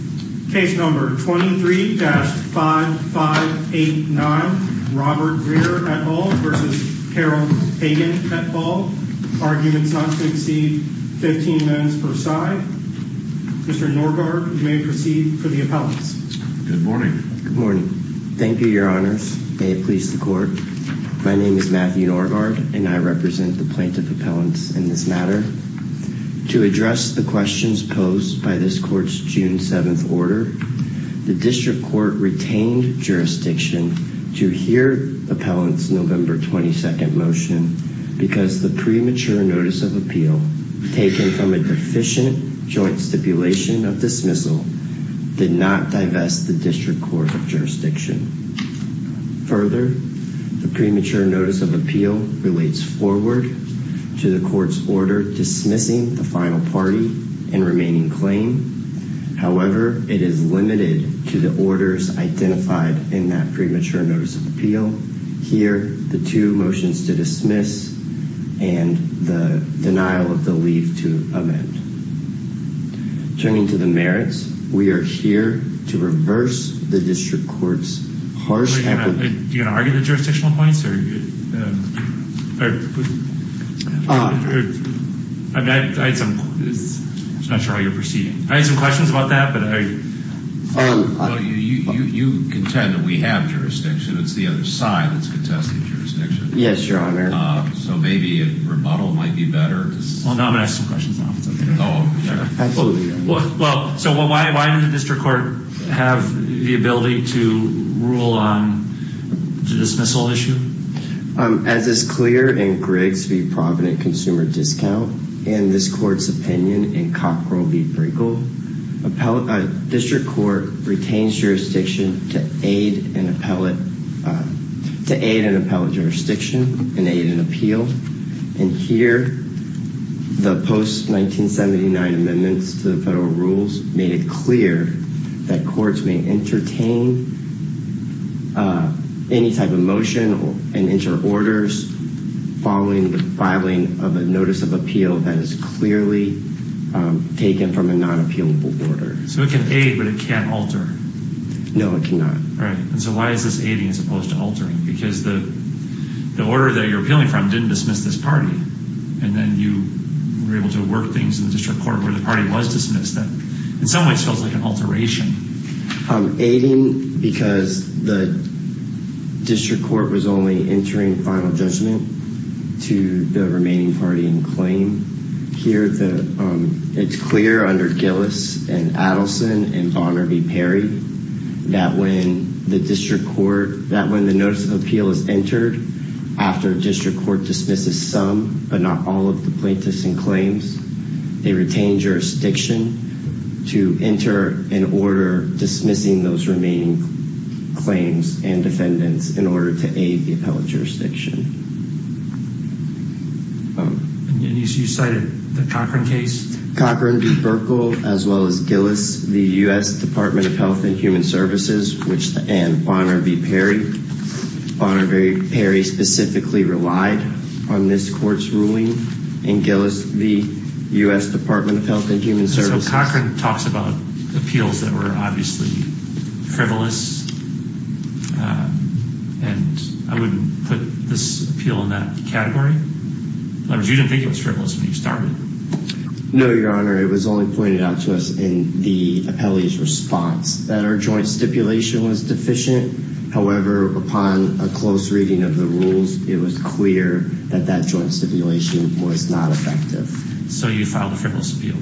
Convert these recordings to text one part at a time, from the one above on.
23-5589 Robert Greer v. Carol Hagen 15 minutes per side Mr. Norgaard, you may proceed for the appellants Good morning Thank you, Your Honors. May it please the Court. My name is Matthew Norgaard, and I represent the plaintiff appellants in this matter. To address the questions posed by this Court's June 7th order, the District Court retained jurisdiction to hear appellants' November 22nd motion because the premature notice of appeal, taken from a deficient joint stipulation of dismissal, did not divest the District Court of Jurisdiction. Further, the premature notice of appeal relates forward to the Court's order dismissing the final party and remaining claim. However, it is limited to the orders identified in that premature notice of appeal. Here, the two motions to dismiss and the denial of the leave to amend. Turning to the merits, we are here to reverse the District Court's harsh Are you going to argue the jurisdictional points? I'm not sure how you're proceeding. I have some questions about that. You contend that we have jurisdiction. It's the other side that's contesting jurisdiction. Yes, Your Honor. So maybe a rebuttal might be better? I'm going to ask some questions now. Absolutely, Your Honor. So why did the District Court have the ability to rule on the dismissal issue? As is clear in Griggs v. Provident Consumer Discount, and this Court's opinion in Cockrell v. Pringle, District Court retains jurisdiction to aid an appellate jurisdiction in aid and appeal. And here, the post-1979 amendments to the federal rules made it clear that courts may entertain any type of motion and enter orders following the filing of a notice of appeal that is clearly taken from a non-appealable order. So it can aid, but it can't alter? No, it cannot. All right. So why is this aiding as opposed to altering? Because the order that you're appealing from didn't dismiss this party, and then you were able to work things in the District Court where the party was dismissed. That, in some ways, feels like an alteration. Aiding because the District Court was only entering final judgment to the remaining party in claim. Here, it's clear under Gillis and Adelson and Bonner v. Perry that when the notice of appeal is entered after a District Court dismisses some, but not all, of the plaintiffs in claims, they retain jurisdiction to enter an order dismissing those remaining claims and defendants in order to aid the appellate jurisdiction. And you cited the Cochran case? Cochran v. Burkle, as well as Gillis v. U.S. Department of Health and Human Services and Bonner v. Perry. Bonner v. Perry specifically relied on this court's ruling, and Gillis v. U.S. Department of Health and Human Services. So Cochran talks about appeals that were obviously frivolous, and I wouldn't put this appeal in that category? In other words, you didn't think it was frivolous when you started? No, Your Honor. It was only pointed out to us in the appellee's response that our joint stipulation was deficient. However, upon a close reading of the rules, it was clear that that joint stipulation was not effective. So you filed a frivolous appeal?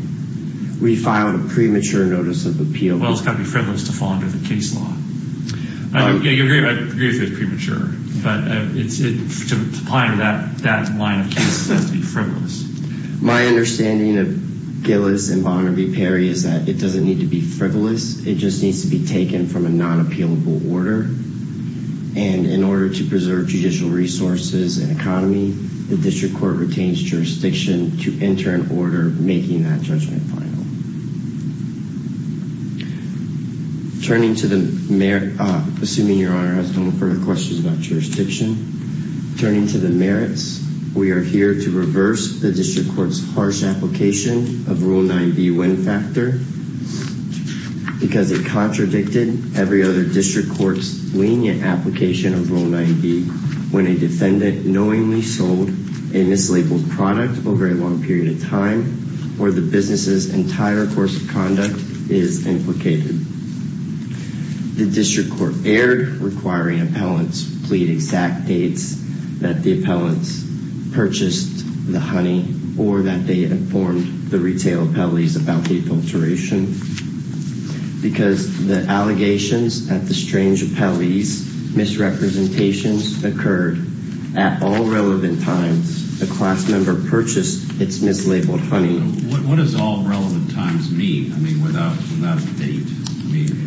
We filed a premature notice of appeal. Well, it's got to be frivolous to fall under the case law. I agree with you it's premature, but it's applying to that line of cases. It has to be frivolous. My understanding of Gillis and Bonner v. Perry is that it doesn't need to be frivolous. It just needs to be taken from a non-appealable order. And in order to preserve judicial resources and economy, the district court retains jurisdiction to enter an order making that judgment final. Assuming Your Honor has no further questions about jurisdiction, turning to the merits, we are here to reverse the district court's harsh application of Rule 9b, wind factor, because it contradicted every other district court's lenient application of Rule 9b when a defendant knowingly sold a mislabeled product over a long period of time or the business's entire course of conduct is implicated. The district court erred, requiring appellants plead exact dates that the appellants purchased the honey or that they informed the retail appellees about the adulteration. Because the allegations at the strange appellee's misrepresentations occurred at all relevant times, the class member purchased its mislabeled honey. What does all relevant times mean? I mean, without a date, I mean...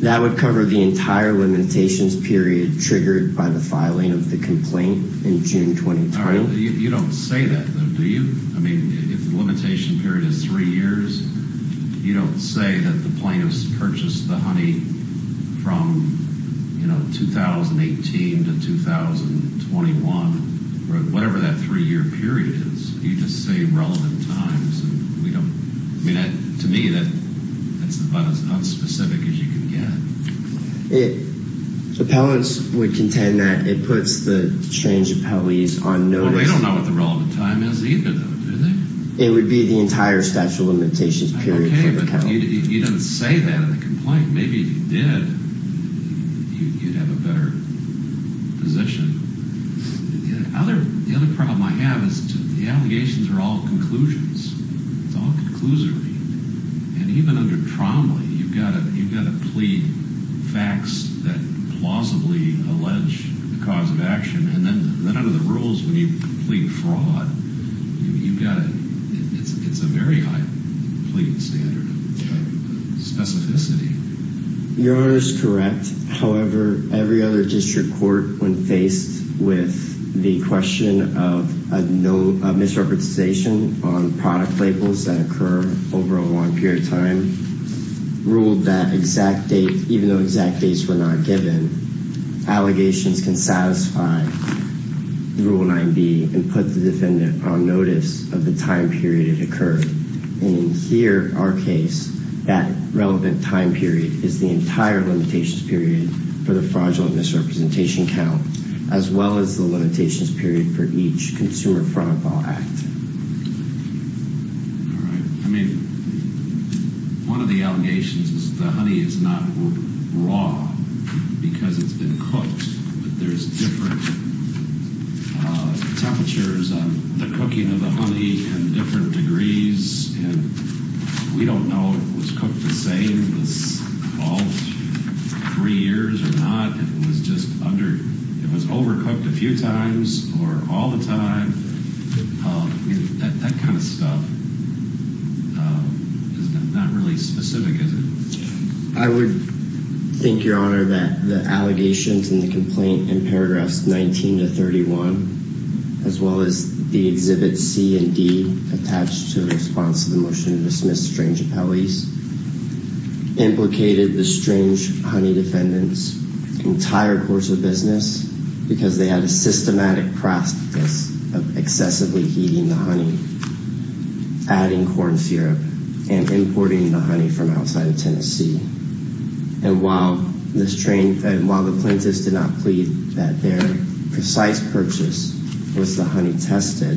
That would cover the entire limitations period triggered by the filing of the complaint in June 2020. You don't say that, though, do you? I mean, if the limitation period is three years, you don't say that the plaintiffs purchased the honey from, you know, 2018 to 2021, or whatever that three-year period is. You just say relevant times, and we don't... I mean, to me, that's about as unspecific as you can get. Appellants would contend that it puts the strange appellees on notice. Well, they don't know what the relevant time is either, though, do they? It would be the entire statute of limitations period for the county. You don't say that in the complaint. Maybe if you did, you'd have a better position. The other problem I have is the allegations are all conclusions. It's all conclusory. And even under Tromley, you've got to plead facts that plausibly allege the cause of action. And then under the rules, when you plead fraud, you've got to... It's a very high pleading standard of specificity. Your Honor is correct. However, every other district court, when faced with the question of misrepresentation on product labels that occur over a long period of time, ruled that exact date, if the allegations were not given, allegations can satisfy the Rule 9b and put the defendant on notice of the time period it occurred. And in here, our case, that relevant time period is the entire limitations period for the fraudulent misrepresentation count, as well as the limitations period for each Consumer Fraud Law Act. All right. I mean, one of the allegations is the honey is not raw because it's been cooked, but there's different temperatures on the cooking of the honey and different degrees. And we don't know if it was cooked the same all three years or not. It was overcooked a few times or all the time. That kind of stuff is not really specific, is it? I would think, Your Honor, that the allegations in the complaint in paragraphs 19 to 31, as well as the exhibit C and D attached to the response to the motion to dismiss strange appellees, implicated the strange honey defendants' entire course of business because they had a systematic practice of excessively heating the honey, adding corn syrup, and importing the honey from outside of Tennessee. And while the plaintiffs did not plead that their precise purchase was the honey tested,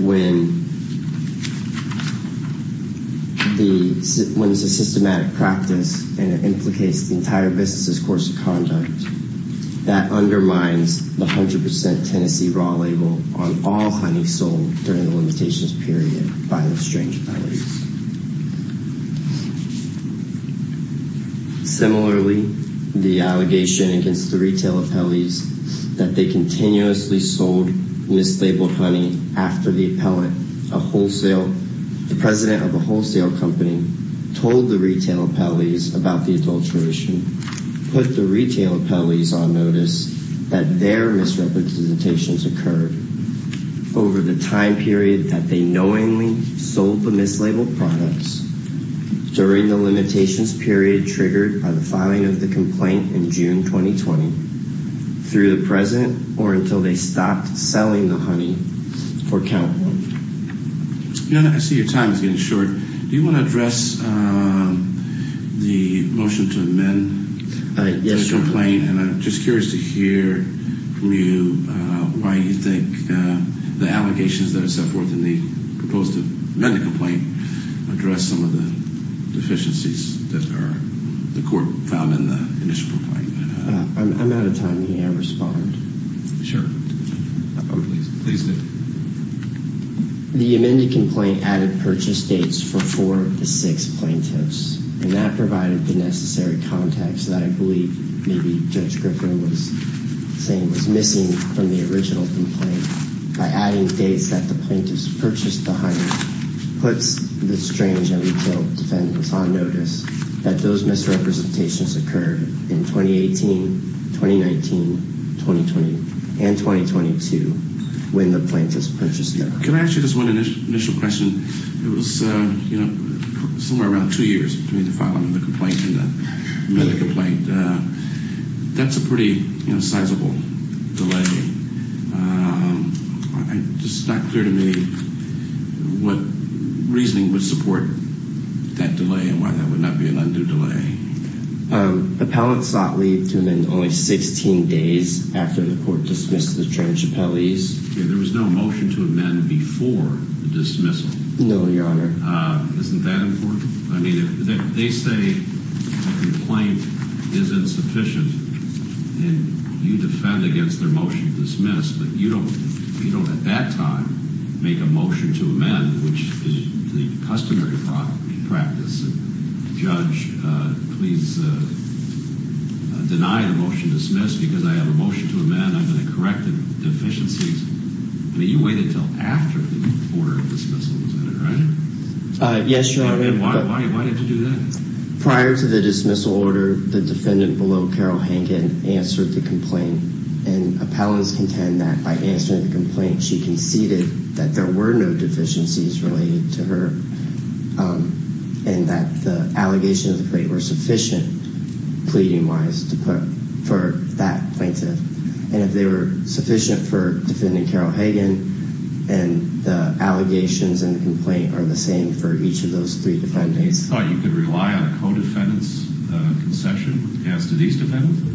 when it's a systematic practice and it implicates the entire business's course of conduct, that undermines the 100% Tennessee raw label on all honey sold during the limitations period by the strange appellees. Similarly, the allegation against the retail appellees that they continuously sold mislabeled honey after the president of a wholesale company told the retail appellees about the adulteration put the retail appellees on notice that their misrepresentations occurred over the time period that they knowingly sold the mislabeled products during the limitations period triggered by the filing of the complaint in June 2020 through the president or until they stopped selling the honey for count one. Your Honor, I see your time is getting short. Do you want to address the motion to amend the complaint? And I'm just curious to hear from you why you think the allegations that are set forth in the proposed amended complaint address some of the deficiencies that are the court found in the initial complaint. I'm out of time. May I respond? Please do. The amended complaint added purchase dates for four of the six plaintiffs and that provided the necessary context that I believe maybe Judge Griffin was saying was missing from the original complaint. By adding dates that the plaintiffs purchased the honey puts the strange retail defendants on notice that those misrepresentations occurred in 2018, 2019, 2020, and 2022 when the plaintiffs purchased the honey. Can I ask you this one initial question? It was somewhere around two years between the filing of the complaint and the meeting of the complaint. That's a pretty sizable delay. It's just not clear to me what reasoning would support that delay and why that would not be an undue delay. Appellants sought leave to amend only 16 days after the court dismissed the trans-appellees. There was no motion to amend before the dismissal. No, Your Honor. Isn't that important? They say a complaint is insufficient and you defend against their motion to dismiss, but you don't at that time make a motion to amend, which is the customary practice. Judge, please deny the motion to dismiss because I have a motion to amend. I'm going to correct the deficiencies. You waited until after the order of dismissal, is that right? Yes, Your Honor. Why did you do that? Prior to the dismissal order, the defendant below Carol Hankin answered the complaint and appellants contend that by answering the complaint, she conceded that there were no deficiencies related to her and that the allegations of the complaint were sufficient pleading-wise for that plaintiff and if they were sufficient for defending Carol Hankin and the allegations and the complaint are the same for each of those three defendants. You thought you could rely on a co-defendant's concession as to these defendants?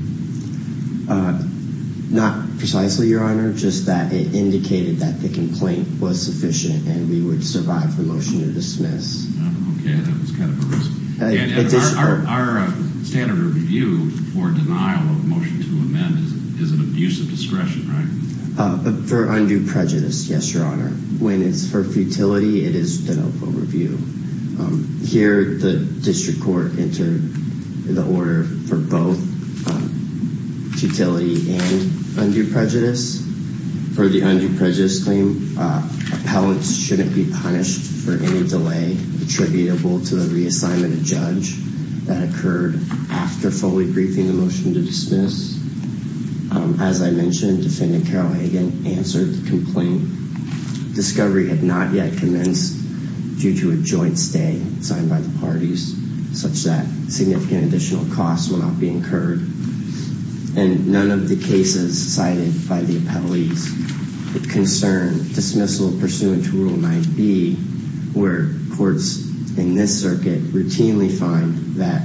Not precisely, Your Honor, just that it indicated that the complaint was sufficient and we would survive the motion to dismiss. Okay, that was kind of a risk. Our standard of review for denial of motion to amend is an abuse of discretion, right? For undue prejudice, yes, Your Honor. When it's for futility, it is de novo review. Here, the district court entered the order for both futility and undue prejudice. For the undue prejudice claim, appellants shouldn't be punished for any delay attributable to a reassignment of judge that occurred after fully briefing the motion to dismiss. As I mentioned, defendant Carol Hankin answered the complaint. Discovery had not yet commenced due to a joint stay signed by the parties such that significant additional costs will not be incurred and none of the cases cited by the appellees concern dismissal pursuant to Rule 9b where courts in this circuit routinely find that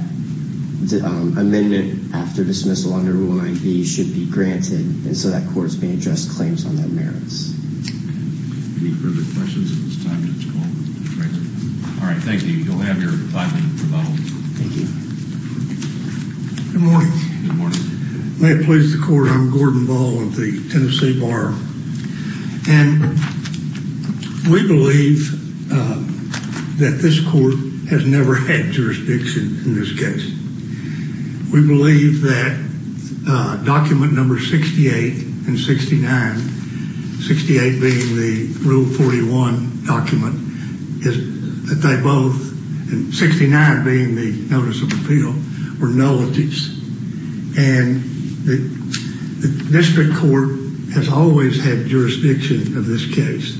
the amendment after dismissal under Rule 9b should be granted and so that courts may address claims on their merits. Any further questions at this time? All right, thank you. You'll have your five-minute rebuttal. Thank you. Good morning. Good morning. May it please the court, I'm Gordon Ball of the Tennessee Bar. And we believe that this court has never had jurisdiction in this case. We believe that document number 68 and 69, 68 being the Rule 41 document, that they both, 69 being the Notice of Appeal, were nullities. And the district court has always had jurisdiction of this case.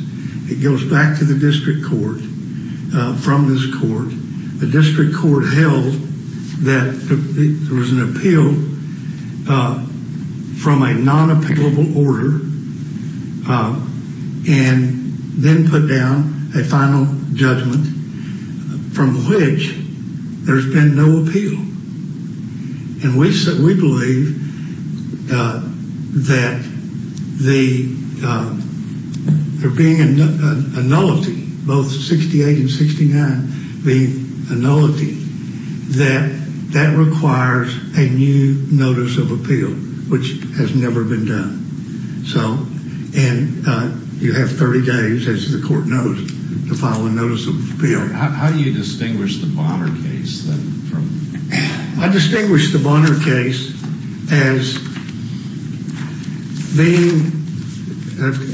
It goes back to the district court from this court. The district court held that there was an appeal from a non-appellable order and then put down a final judgment from which there's been no appeal. And we believe that there being a nullity, both 68 and 69 being a nullity, that that requires a new Notice of Appeal, which has never been done. And you have 30 days, as the court knows, to file a Notice of Appeal. How do you distinguish the Bonner case? I distinguish the Bonner case as being,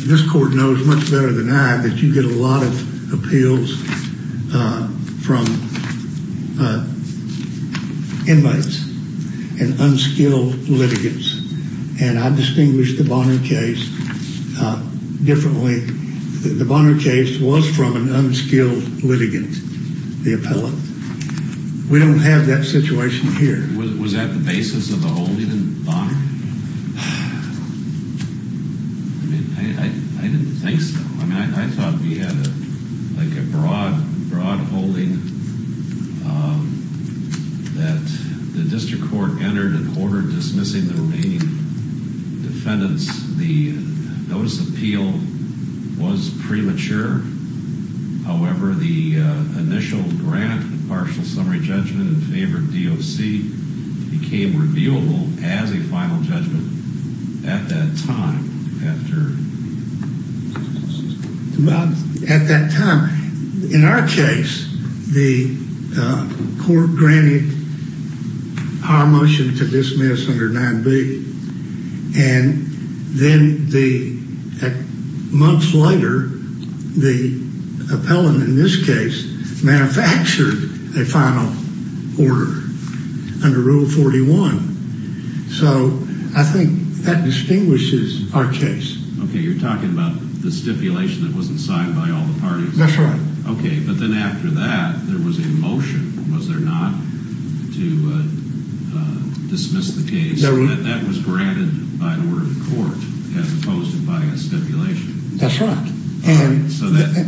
this court knows much better than I, that you get a lot of appeals from inmates and unskilled litigants. And I distinguish the Bonner case differently. The Bonner case was from an unskilled litigant, the appellant. We don't have that situation here. Was that the basis of the holding in Bonner? I mean, I didn't think so. I mean, I thought we had like a broad holding that the district court entered an order dismissing the remaining defendants. The Notice of Appeal was premature. However, the initial grant, partial summary judgment in favor of DOC, became reviewable as a final judgment at that time. At that time, in our case, the court granted our motion to dismiss under 9B. And then months later, the appellant in this case manufactured a final order under Rule 41. So I think that distinguishes our case. Okay, you're talking about the stipulation that wasn't signed by all the parties? That's right. Okay, but then after that, there was a motion, was there not, to dismiss the case? That was granted by an order to court as opposed to by a stipulation. That's right. So that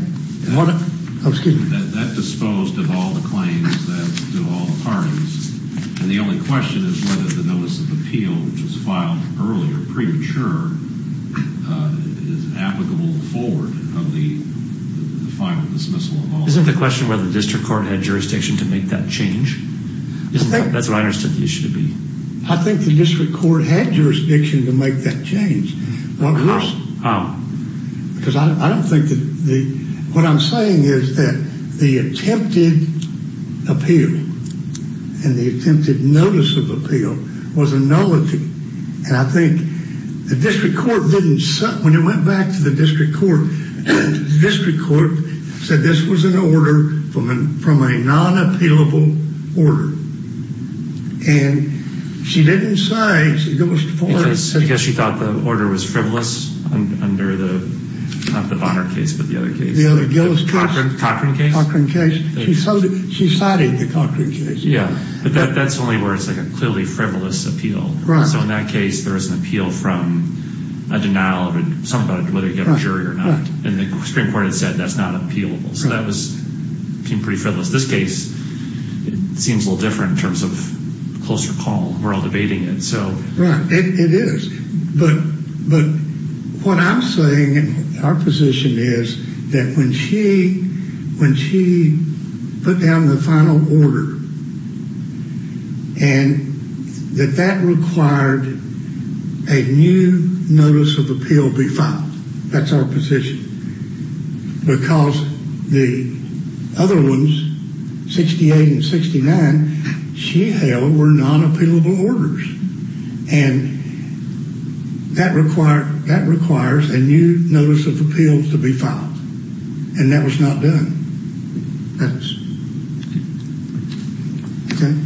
disposed of all the claims to all the parties. And the only question is whether the Notice of Appeal, which was filed earlier, premature, is applicable forward of the final dismissal of all the parties. Isn't the question whether the district court had jurisdiction to make that change? That's what I understood the issue to be. I think the district court had jurisdiction to make that change. Because I don't think that the, what I'm saying is that the attempted appeal and the attempted Notice of Appeal was a nullity. And I think the district court didn't, when it went back to the district court, the district court said this was an order from a non-appealable order. And she didn't say, she goes forward. Because she thought the order was frivolous under the, not the Bonner case, but the other case. The other, Gillis case. Cochran case. Cochran case. She cited the Cochran case. But that's only where it's like a clearly frivolous appeal. Right. So in that case, there was an appeal from a denial of some budget, whether you get a jury or not. And the district court had said that's not appealable. So that was pretty frivolous. This case, it seems a little different in terms of closer call. We're all debating it. Right. It is. But what I'm saying, our position is that when she put down the final order, and that that required a new Notice of Appeal be filed, that's our position. Because the other ones, 68 and 69, she held were non-appealable orders. And that requires a new Notice of Appeal to be filed. And that was not done. Okay.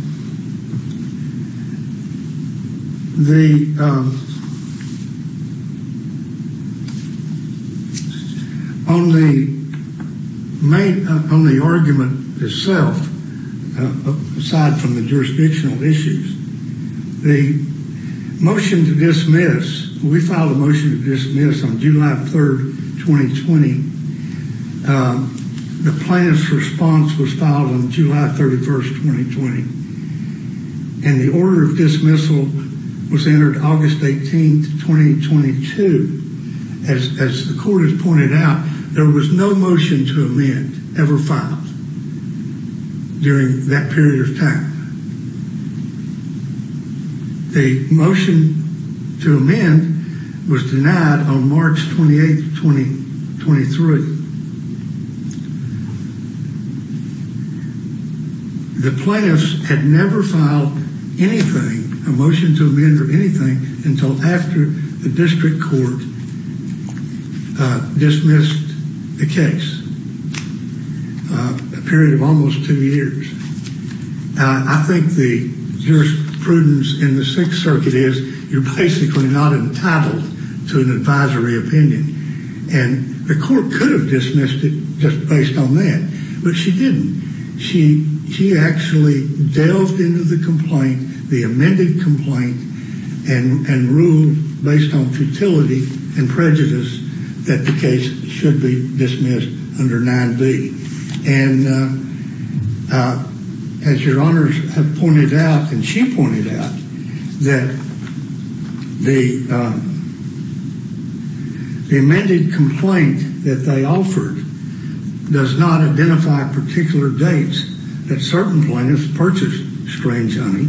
On the argument itself, aside from the jurisdictional issues, the motion to dismiss, we filed a motion to dismiss on July 3rd, 2020. The plan's response was filed on July 31st, 2020. And the order of dismissal was entered August 18th, 2022. As the court has pointed out, there was no motion to amend ever filed during that period of time. The motion to amend was denied on March 28th, 2023. The plaintiffs had never filed anything, a motion to amend or anything, until after the district court dismissed the case. A period of almost two years. I think the jurisprudence in the Sixth Circuit is you're basically not entitled to an advisory opinion. And the court could have dismissed it just based on that. But she didn't. She actually delved into the complaint, the amended complaint, and ruled based on futility and prejudice that the case should be dismissed under 9B. And as your honors have pointed out, and she pointed out, that the amended complaint that they offered does not identify particular dates that certain plaintiffs purchased Strange Honey.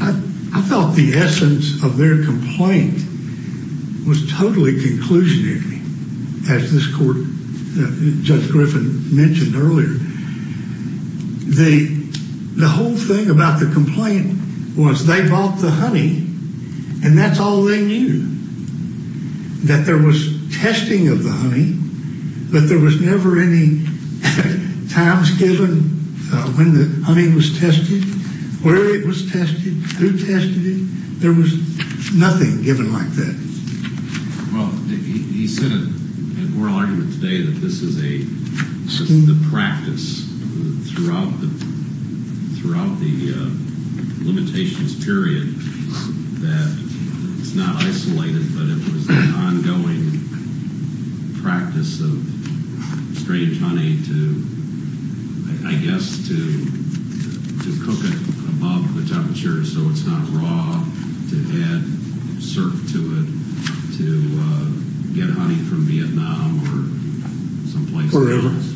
I thought the essence of their complaint was totally conclusionary. As this court, Judge Griffin mentioned earlier, the whole thing about the complaint was they bought the honey and that's all they knew. That there was testing of the honey, but there was never any times given when the honey was tested, where it was tested, who tested it. There was nothing given like that. Well, he said in oral argument today that this is the practice throughout the limitations period that it's not isolated, but it was an ongoing practice of Strange Honey to, I guess, to cook it above the temperature so it's not raw, to add syrup to it, to get honey from Vietnam or someplace else.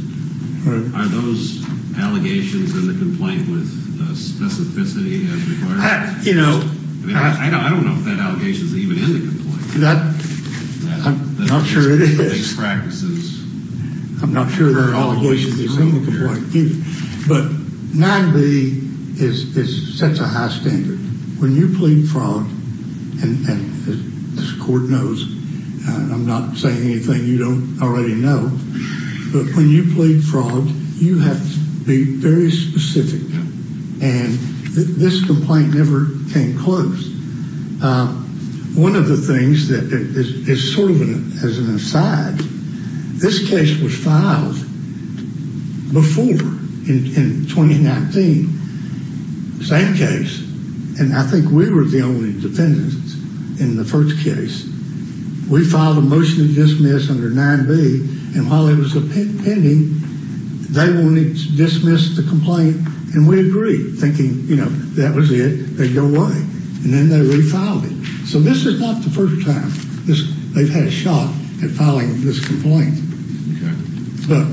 Are those allegations in the complaint with specificity as required? I don't know if that allegation is even in the complaint. I'm not sure it is. I'm not sure there are allegations in the original complaint either. But 9B sets a high standard. When you plead fraud, and this court knows, and I'm not saying anything you don't already know, but when you plead fraud, you have to be very specific. And this complaint never came close. One of the things that is sort of as an aside, this case was filed before in 2019. Same case. And I think we were the only defendants in the first case. We filed a motion to dismiss under 9B, and while it was pending, they wanted to dismiss the complaint, and we agreed, thinking, you know, that was it. They go away. And then they refiled it. So this is not the first time they've had a shot at filing this complaint. But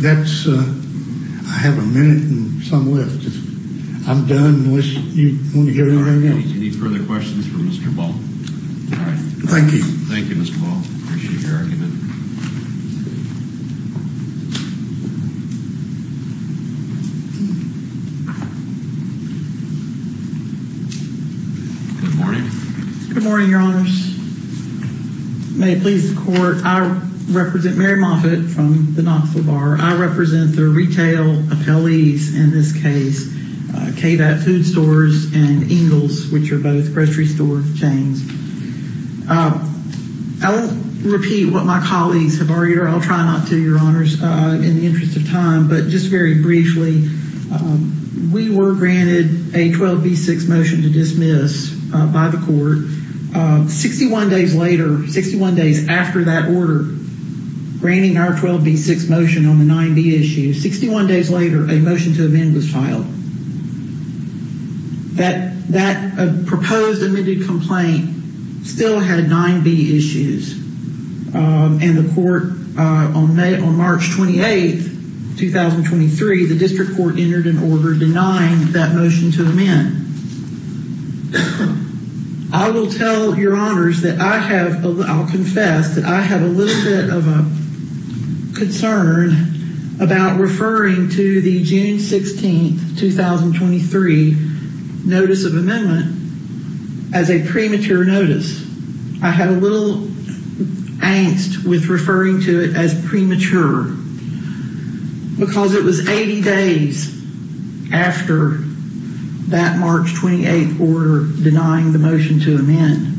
that's ‑‑ I have a minute and some left. I'm done unless you want to hear anything else. Any further questions for Mr. Ball? All right. Thank you. Thank you, Mr. Ball. Appreciate your argument. Good morning. Good morning, Your Honors. May it please the Court, I represent Mary Moffitt from the Knoxville Bar. I represent the retail appellees in this case, KVAP Food Stores and Ingalls, which are both grocery store chains. I'll repeat what my colleagues have argued, or I'll try not to, Your Honors, in the interest of time, but just very briefly, we were granted a 12B6 motion to dismiss by the Court. Sixty-one days later, 61 days after that order, granting our 12B6 motion on the 9B issue, 61 days later, a motion to amend was filed. That proposed amended complaint still had 9B issues. And the Court, on March 28, 2023, the District Court entered an order denying that motion to amend. I will tell Your Honors that I have, I'll confess, that I have a little bit of a concern about referring to the June 16, 2023 notice of amendment as a premature notice. I had a little angst with referring to it as premature. Because it was 80 days after that March 28 order denying the motion to amend.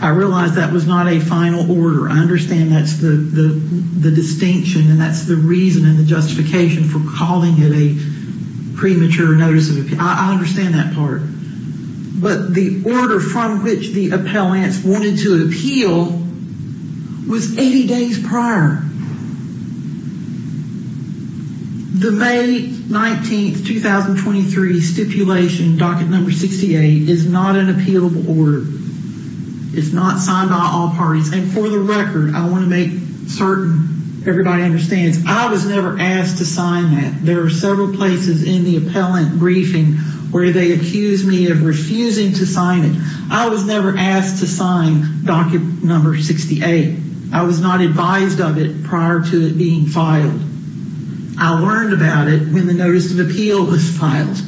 I realize that was not a final order. I understand that's the distinction and that's the reason and the justification for calling it a premature notice. I understand that part. But the order from which the appellants wanted to appeal was 80 days prior. The May 19, 2023 stipulation, docket number 68, is not an appealable order. It's not signed by all parties. And for the record, I want to make certain everybody understands, I was never asked to sign that. There are several places in the appellant briefing where they accused me of refusing to sign it. I was never asked to sign docket number 68. I was not advised of it prior to it being filed. I learned about it when the notice of appeal was filed.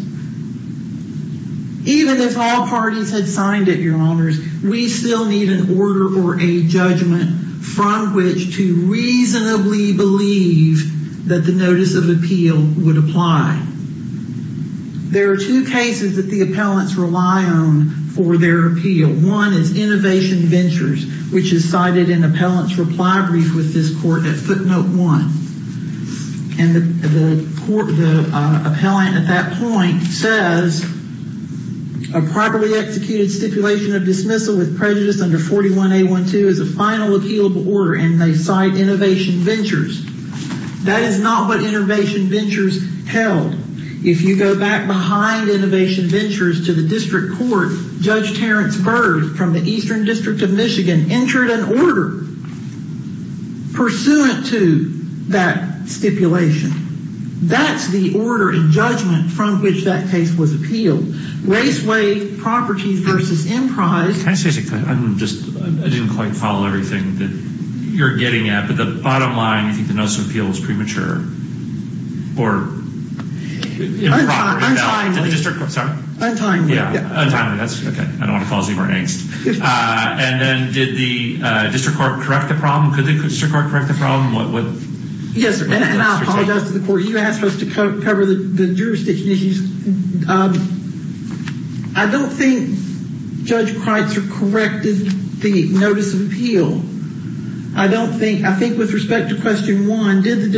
Even if all parties had signed it, Your Honors, we still need an order or a judgment from which to reasonably believe that the notice of appeal would apply. There are two cases that the appellants rely on for their appeal. One is Innovation Ventures, which is cited in the appellant's reply brief with this court at footnote one. And the court, the appellant at that point says, A properly executed stipulation of dismissal with prejudice under 41A12 is a final appealable order, and they cite Innovation Ventures. That is not what Innovation Ventures held. If you go back behind Innovation Ventures to the district court, Judge Terrence Bird from the Eastern District of Michigan entered an order pursuant to that stipulation. That's the order and judgment from which that case was appealed. Race, way, property versus enterprise. Can I say something? I didn't quite follow everything that you're getting at, but the bottom line, I think the notice of appeal is premature. Or improper. Sorry? Untimely. That's okay. I don't want to cause any more angst. And then did the district court correct the problem? Could the district court correct the problem? Yes, and I apologize to the court. You asked us to cover the jurisdiction issues. I don't think Judge Kreitzer corrected the notice of appeal. I think with respect to question one, did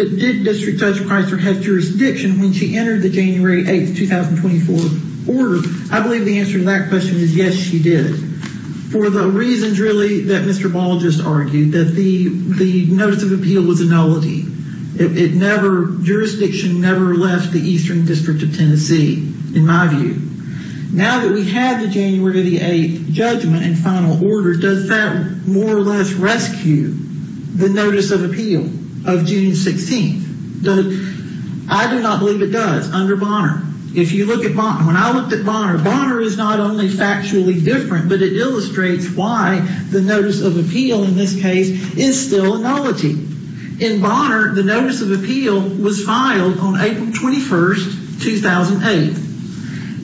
District Judge Kreitzer have jurisdiction when she entered the January 8th, 2024 order? I believe the answer to that question is yes, she did. For the reasons really that Mr. Ball just argued, that the notice of appeal was a nullity. Jurisdiction never left the Eastern District of Tennessee, in my view. Now that we have the January 8th judgment and final order, does that more or less rescue the notice of appeal of June 16th? I do not believe it does under Bonner. If you look at Bonner, when I looked at Bonner, Bonner is not only factually different, but it illustrates why the notice of appeal in this case is still a nullity. In Bonner, the notice of appeal was filed on April 21st, 2008.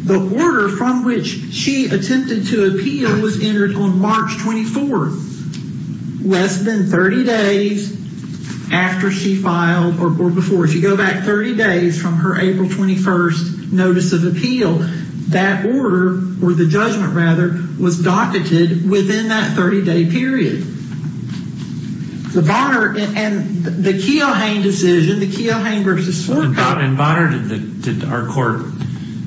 The order from which she attempted to appeal was entered on March 24th, less than 30 days after she filed, or before. If you go back 30 days from her April 21st notice of appeal, that order, or the judgment rather, was docketed within that 30-day period. The Bonner, and the Keohane decision, the Keohane v. Svoboda. In Bonner,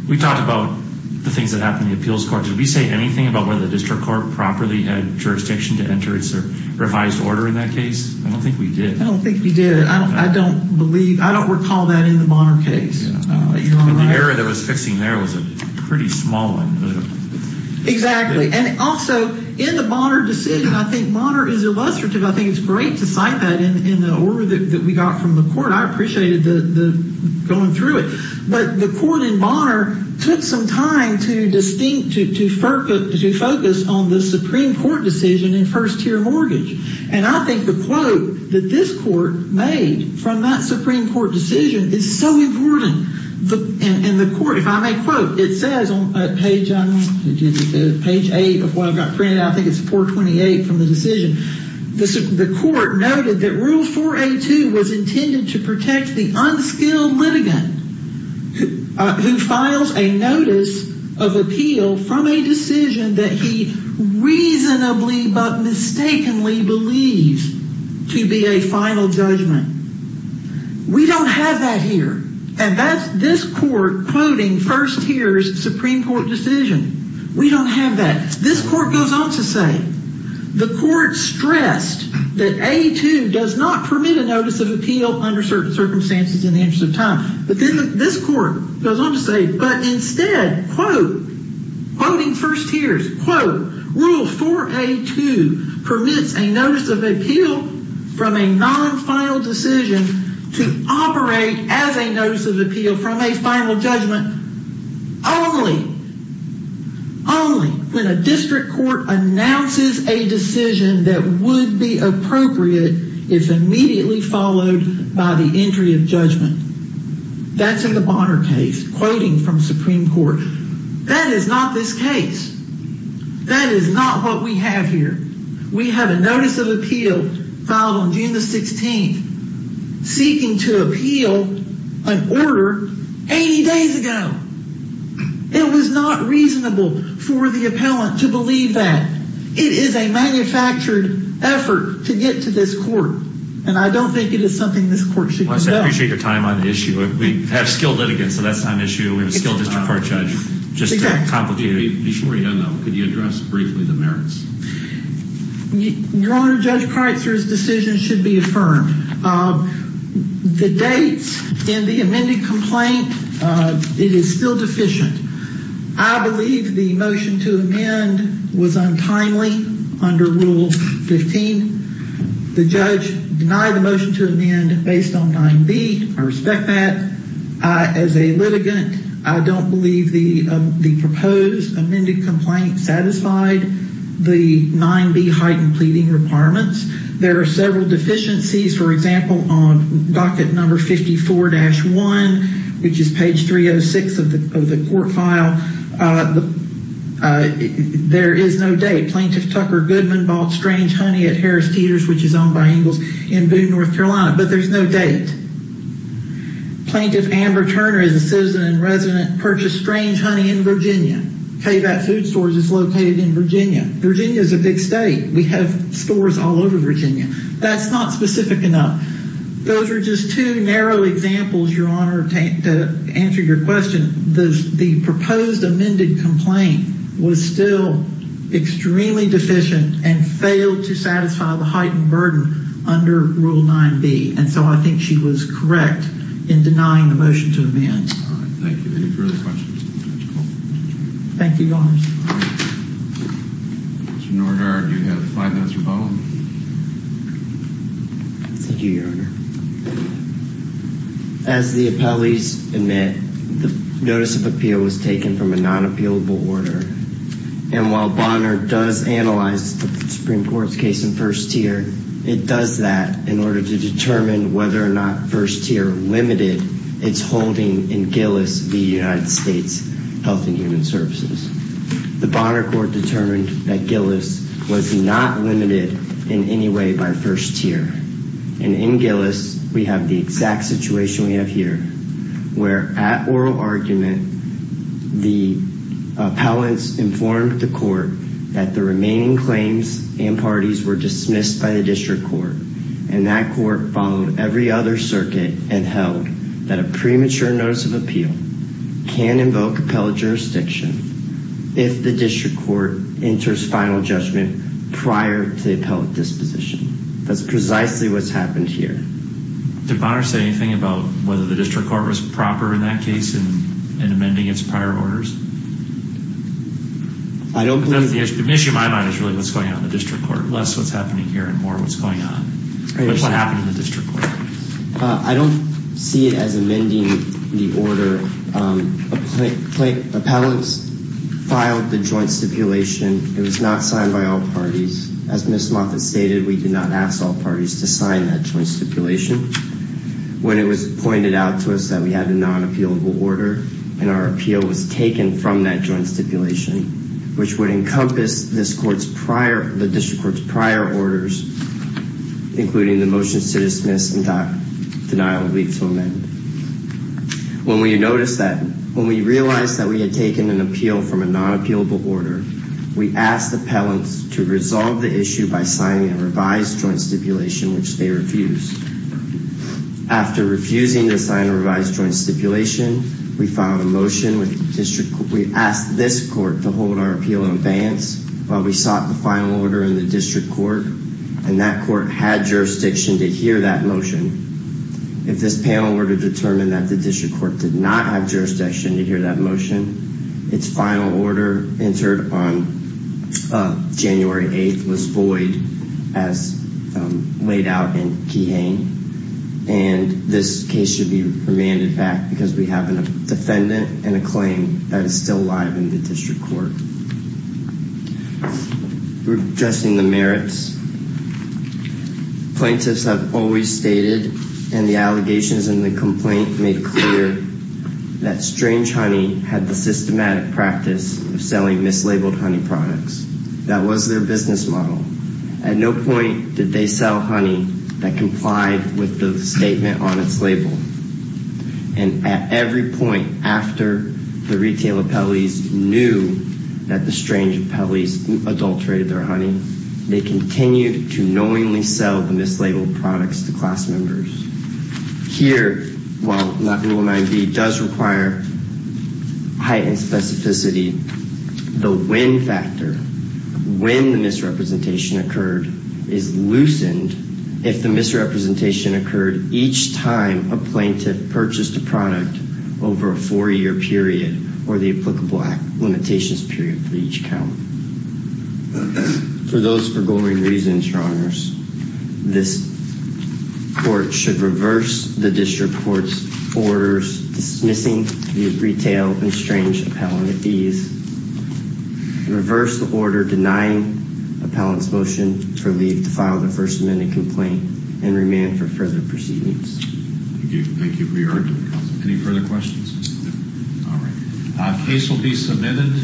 we talked about the things that happened in the appeals court. Did we say anything about whether the district court properly had jurisdiction to enter its revised order in that case? I don't think we did. I don't think we did. I don't recall that in the Bonner case. The error that was fixing there was a pretty small one. Exactly. Also, in the Bonner decision, I think Bonner is illustrative. I think it's great to cite that in the order that we got from the court. I appreciated going through it. But the court in Bonner took some time to focus on the Supreme Court decision in first-tier mortgage. And I think the quote that this court made from that Supreme Court decision is so important. And the court, if I may quote, it says on page 8 of what got printed. I think it's 428 from the decision. The court noted that Rule 4A2 was intended to protect the unskilled litigant who files a notice of appeal from a decision that he reasonably but mistakenly believes to be a final judgment. We don't have that here. And that's this court quoting first-tier's Supreme Court decision. We don't have that. This court goes on to say, the court stressed that A2 does not permit a notice of appeal under certain circumstances in the interest of time. But this court goes on to say, but instead, quote, quoting first-tier's, quote, Rule 4A2 permits a notice of appeal from a non-final decision to operate as a notice of appeal from a final judgment only, only when a district court announces a decision that would be appropriate if immediately followed by the entry of judgment. That's in the Bonner case, quoting from Supreme Court. That is not this case. That is not what we have here. We have a notice of appeal filed on June the 16th, seeking to appeal an order 80 days ago. It was not reasonable for the appellant to believe that. It is a manufactured effort to get to this court, and I don't think it is something this court should conduct. I appreciate your time on the issue. We have skilled litigants, so that's not an issue. We have a skilled district court judge. Just to complicate it, before you go, though, could you address briefly the merits? Your Honor, Judge Kreitzer's decision should be affirmed. The dates in the amended complaint, it is still deficient. I believe the motion to amend was untimely under Rule 15. The judge denied the motion to amend based on 9B. I respect that. As a litigant, I don't believe the proposed amended complaint satisfied the 9B heightened pleading requirements. There are several deficiencies. For example, on docket number 54-1, which is page 306 of the court file, there is no date. Plaintiff Tucker Goodman bought strange honey at Harris Teeter's, which is owned by Ingalls & Boone, North Carolina, but there's no date. Plaintiff Amber Turner is a citizen and resident, purchased strange honey in Virginia. K-Bat Food Stores is located in Virginia. Virginia is a big state. We have stores all over Virginia. That's not specific enough. Those are just two narrow examples, Your Honor, to answer your question. The proposed amended complaint was still extremely deficient and failed to satisfy the heightened burden under Rule 9B, and so I think she was correct in denying the motion to amend. All right, thank you. Any further questions? Thank you, Your Honor. Mr. Nordhard, you have five minutes or both. Thank you, Your Honor. As the appellees admit, the notice of appeal was taken from a non-appealable order, and while Bonner does analyze the Supreme Court's case in first tier, it does that in order to determine whether or not first tier limited its holding in Gillis v. United States Health and Human Services. The Bonner court determined that Gillis was not limited in any way by first tier, and in Gillis we have the exact situation we have here, where at oral argument the appellants informed the court that the remaining claims and parties were dismissed by the district court, and that court followed every other circuit and held that a premature notice of appeal can invoke appellate jurisdiction if the district court enters final judgment prior to the appellate disposition. That's precisely what's happened here. Did Bonner say anything about whether the district court was proper in that case in amending its prior orders? The issue in my mind is really what's going on in the district court, less what's happening here and more what's going on, but what happened in the district court. I don't see it as amending the order. Appellants filed the joint stipulation. It was not signed by all parties. As Ms. Moffitt stated, we did not ask all parties to sign that joint stipulation. When it was pointed out to us that we had a non-appealable order and our appeal was taken from that joint stipulation, which would encompass the district court's prior orders, including the motions to dismiss and denial of leave to amend. When we realized that we had taken an appeal from a non-appealable order, we asked appellants to resolve the issue by signing a revised joint stipulation, which they refused. After refusing to sign a revised joint stipulation, we filed a motion with the district court. We asked this court to hold our appeal in abeyance while we sought the final order in the district court, and that court had jurisdiction to hear that motion. If this panel were to determine that the district court did not have jurisdiction to hear that motion, its final order entered on January 8th was void as laid out in Keyhane, and this case should be remanded back because we have a defendant and a claim that is still live in the district court. We're addressing the merits. Plaintiffs have always stated, and the allegations in the complaint made clear, that Strange Honey had the systematic practice of selling mislabeled honey products. That was their business model. At no point did they sell honey that complied with the statement on its label, and at every point after the retail appellees knew that the Strange appellees adulterated their honey, they continued to knowingly sell the mislabeled products to class members. Here, while not rule 9B does require heightened specificity, the when factor, when the misrepresentation occurred, is loosened if the misrepresentation occurred each time a plaintiff purchased a product over a four-year period or the applicable limitations period for each count. For those forgoing reasons, Your Honors, this court should reverse the district court's orders dismissing the retail and Strange appellant fees and reverse the order denying appellants' motion to leave to file their First Amendment complaint and remand for further proceedings. Thank you. Thank you for your argument, Counsel. Any further questions? No. All right. Case will be submitted.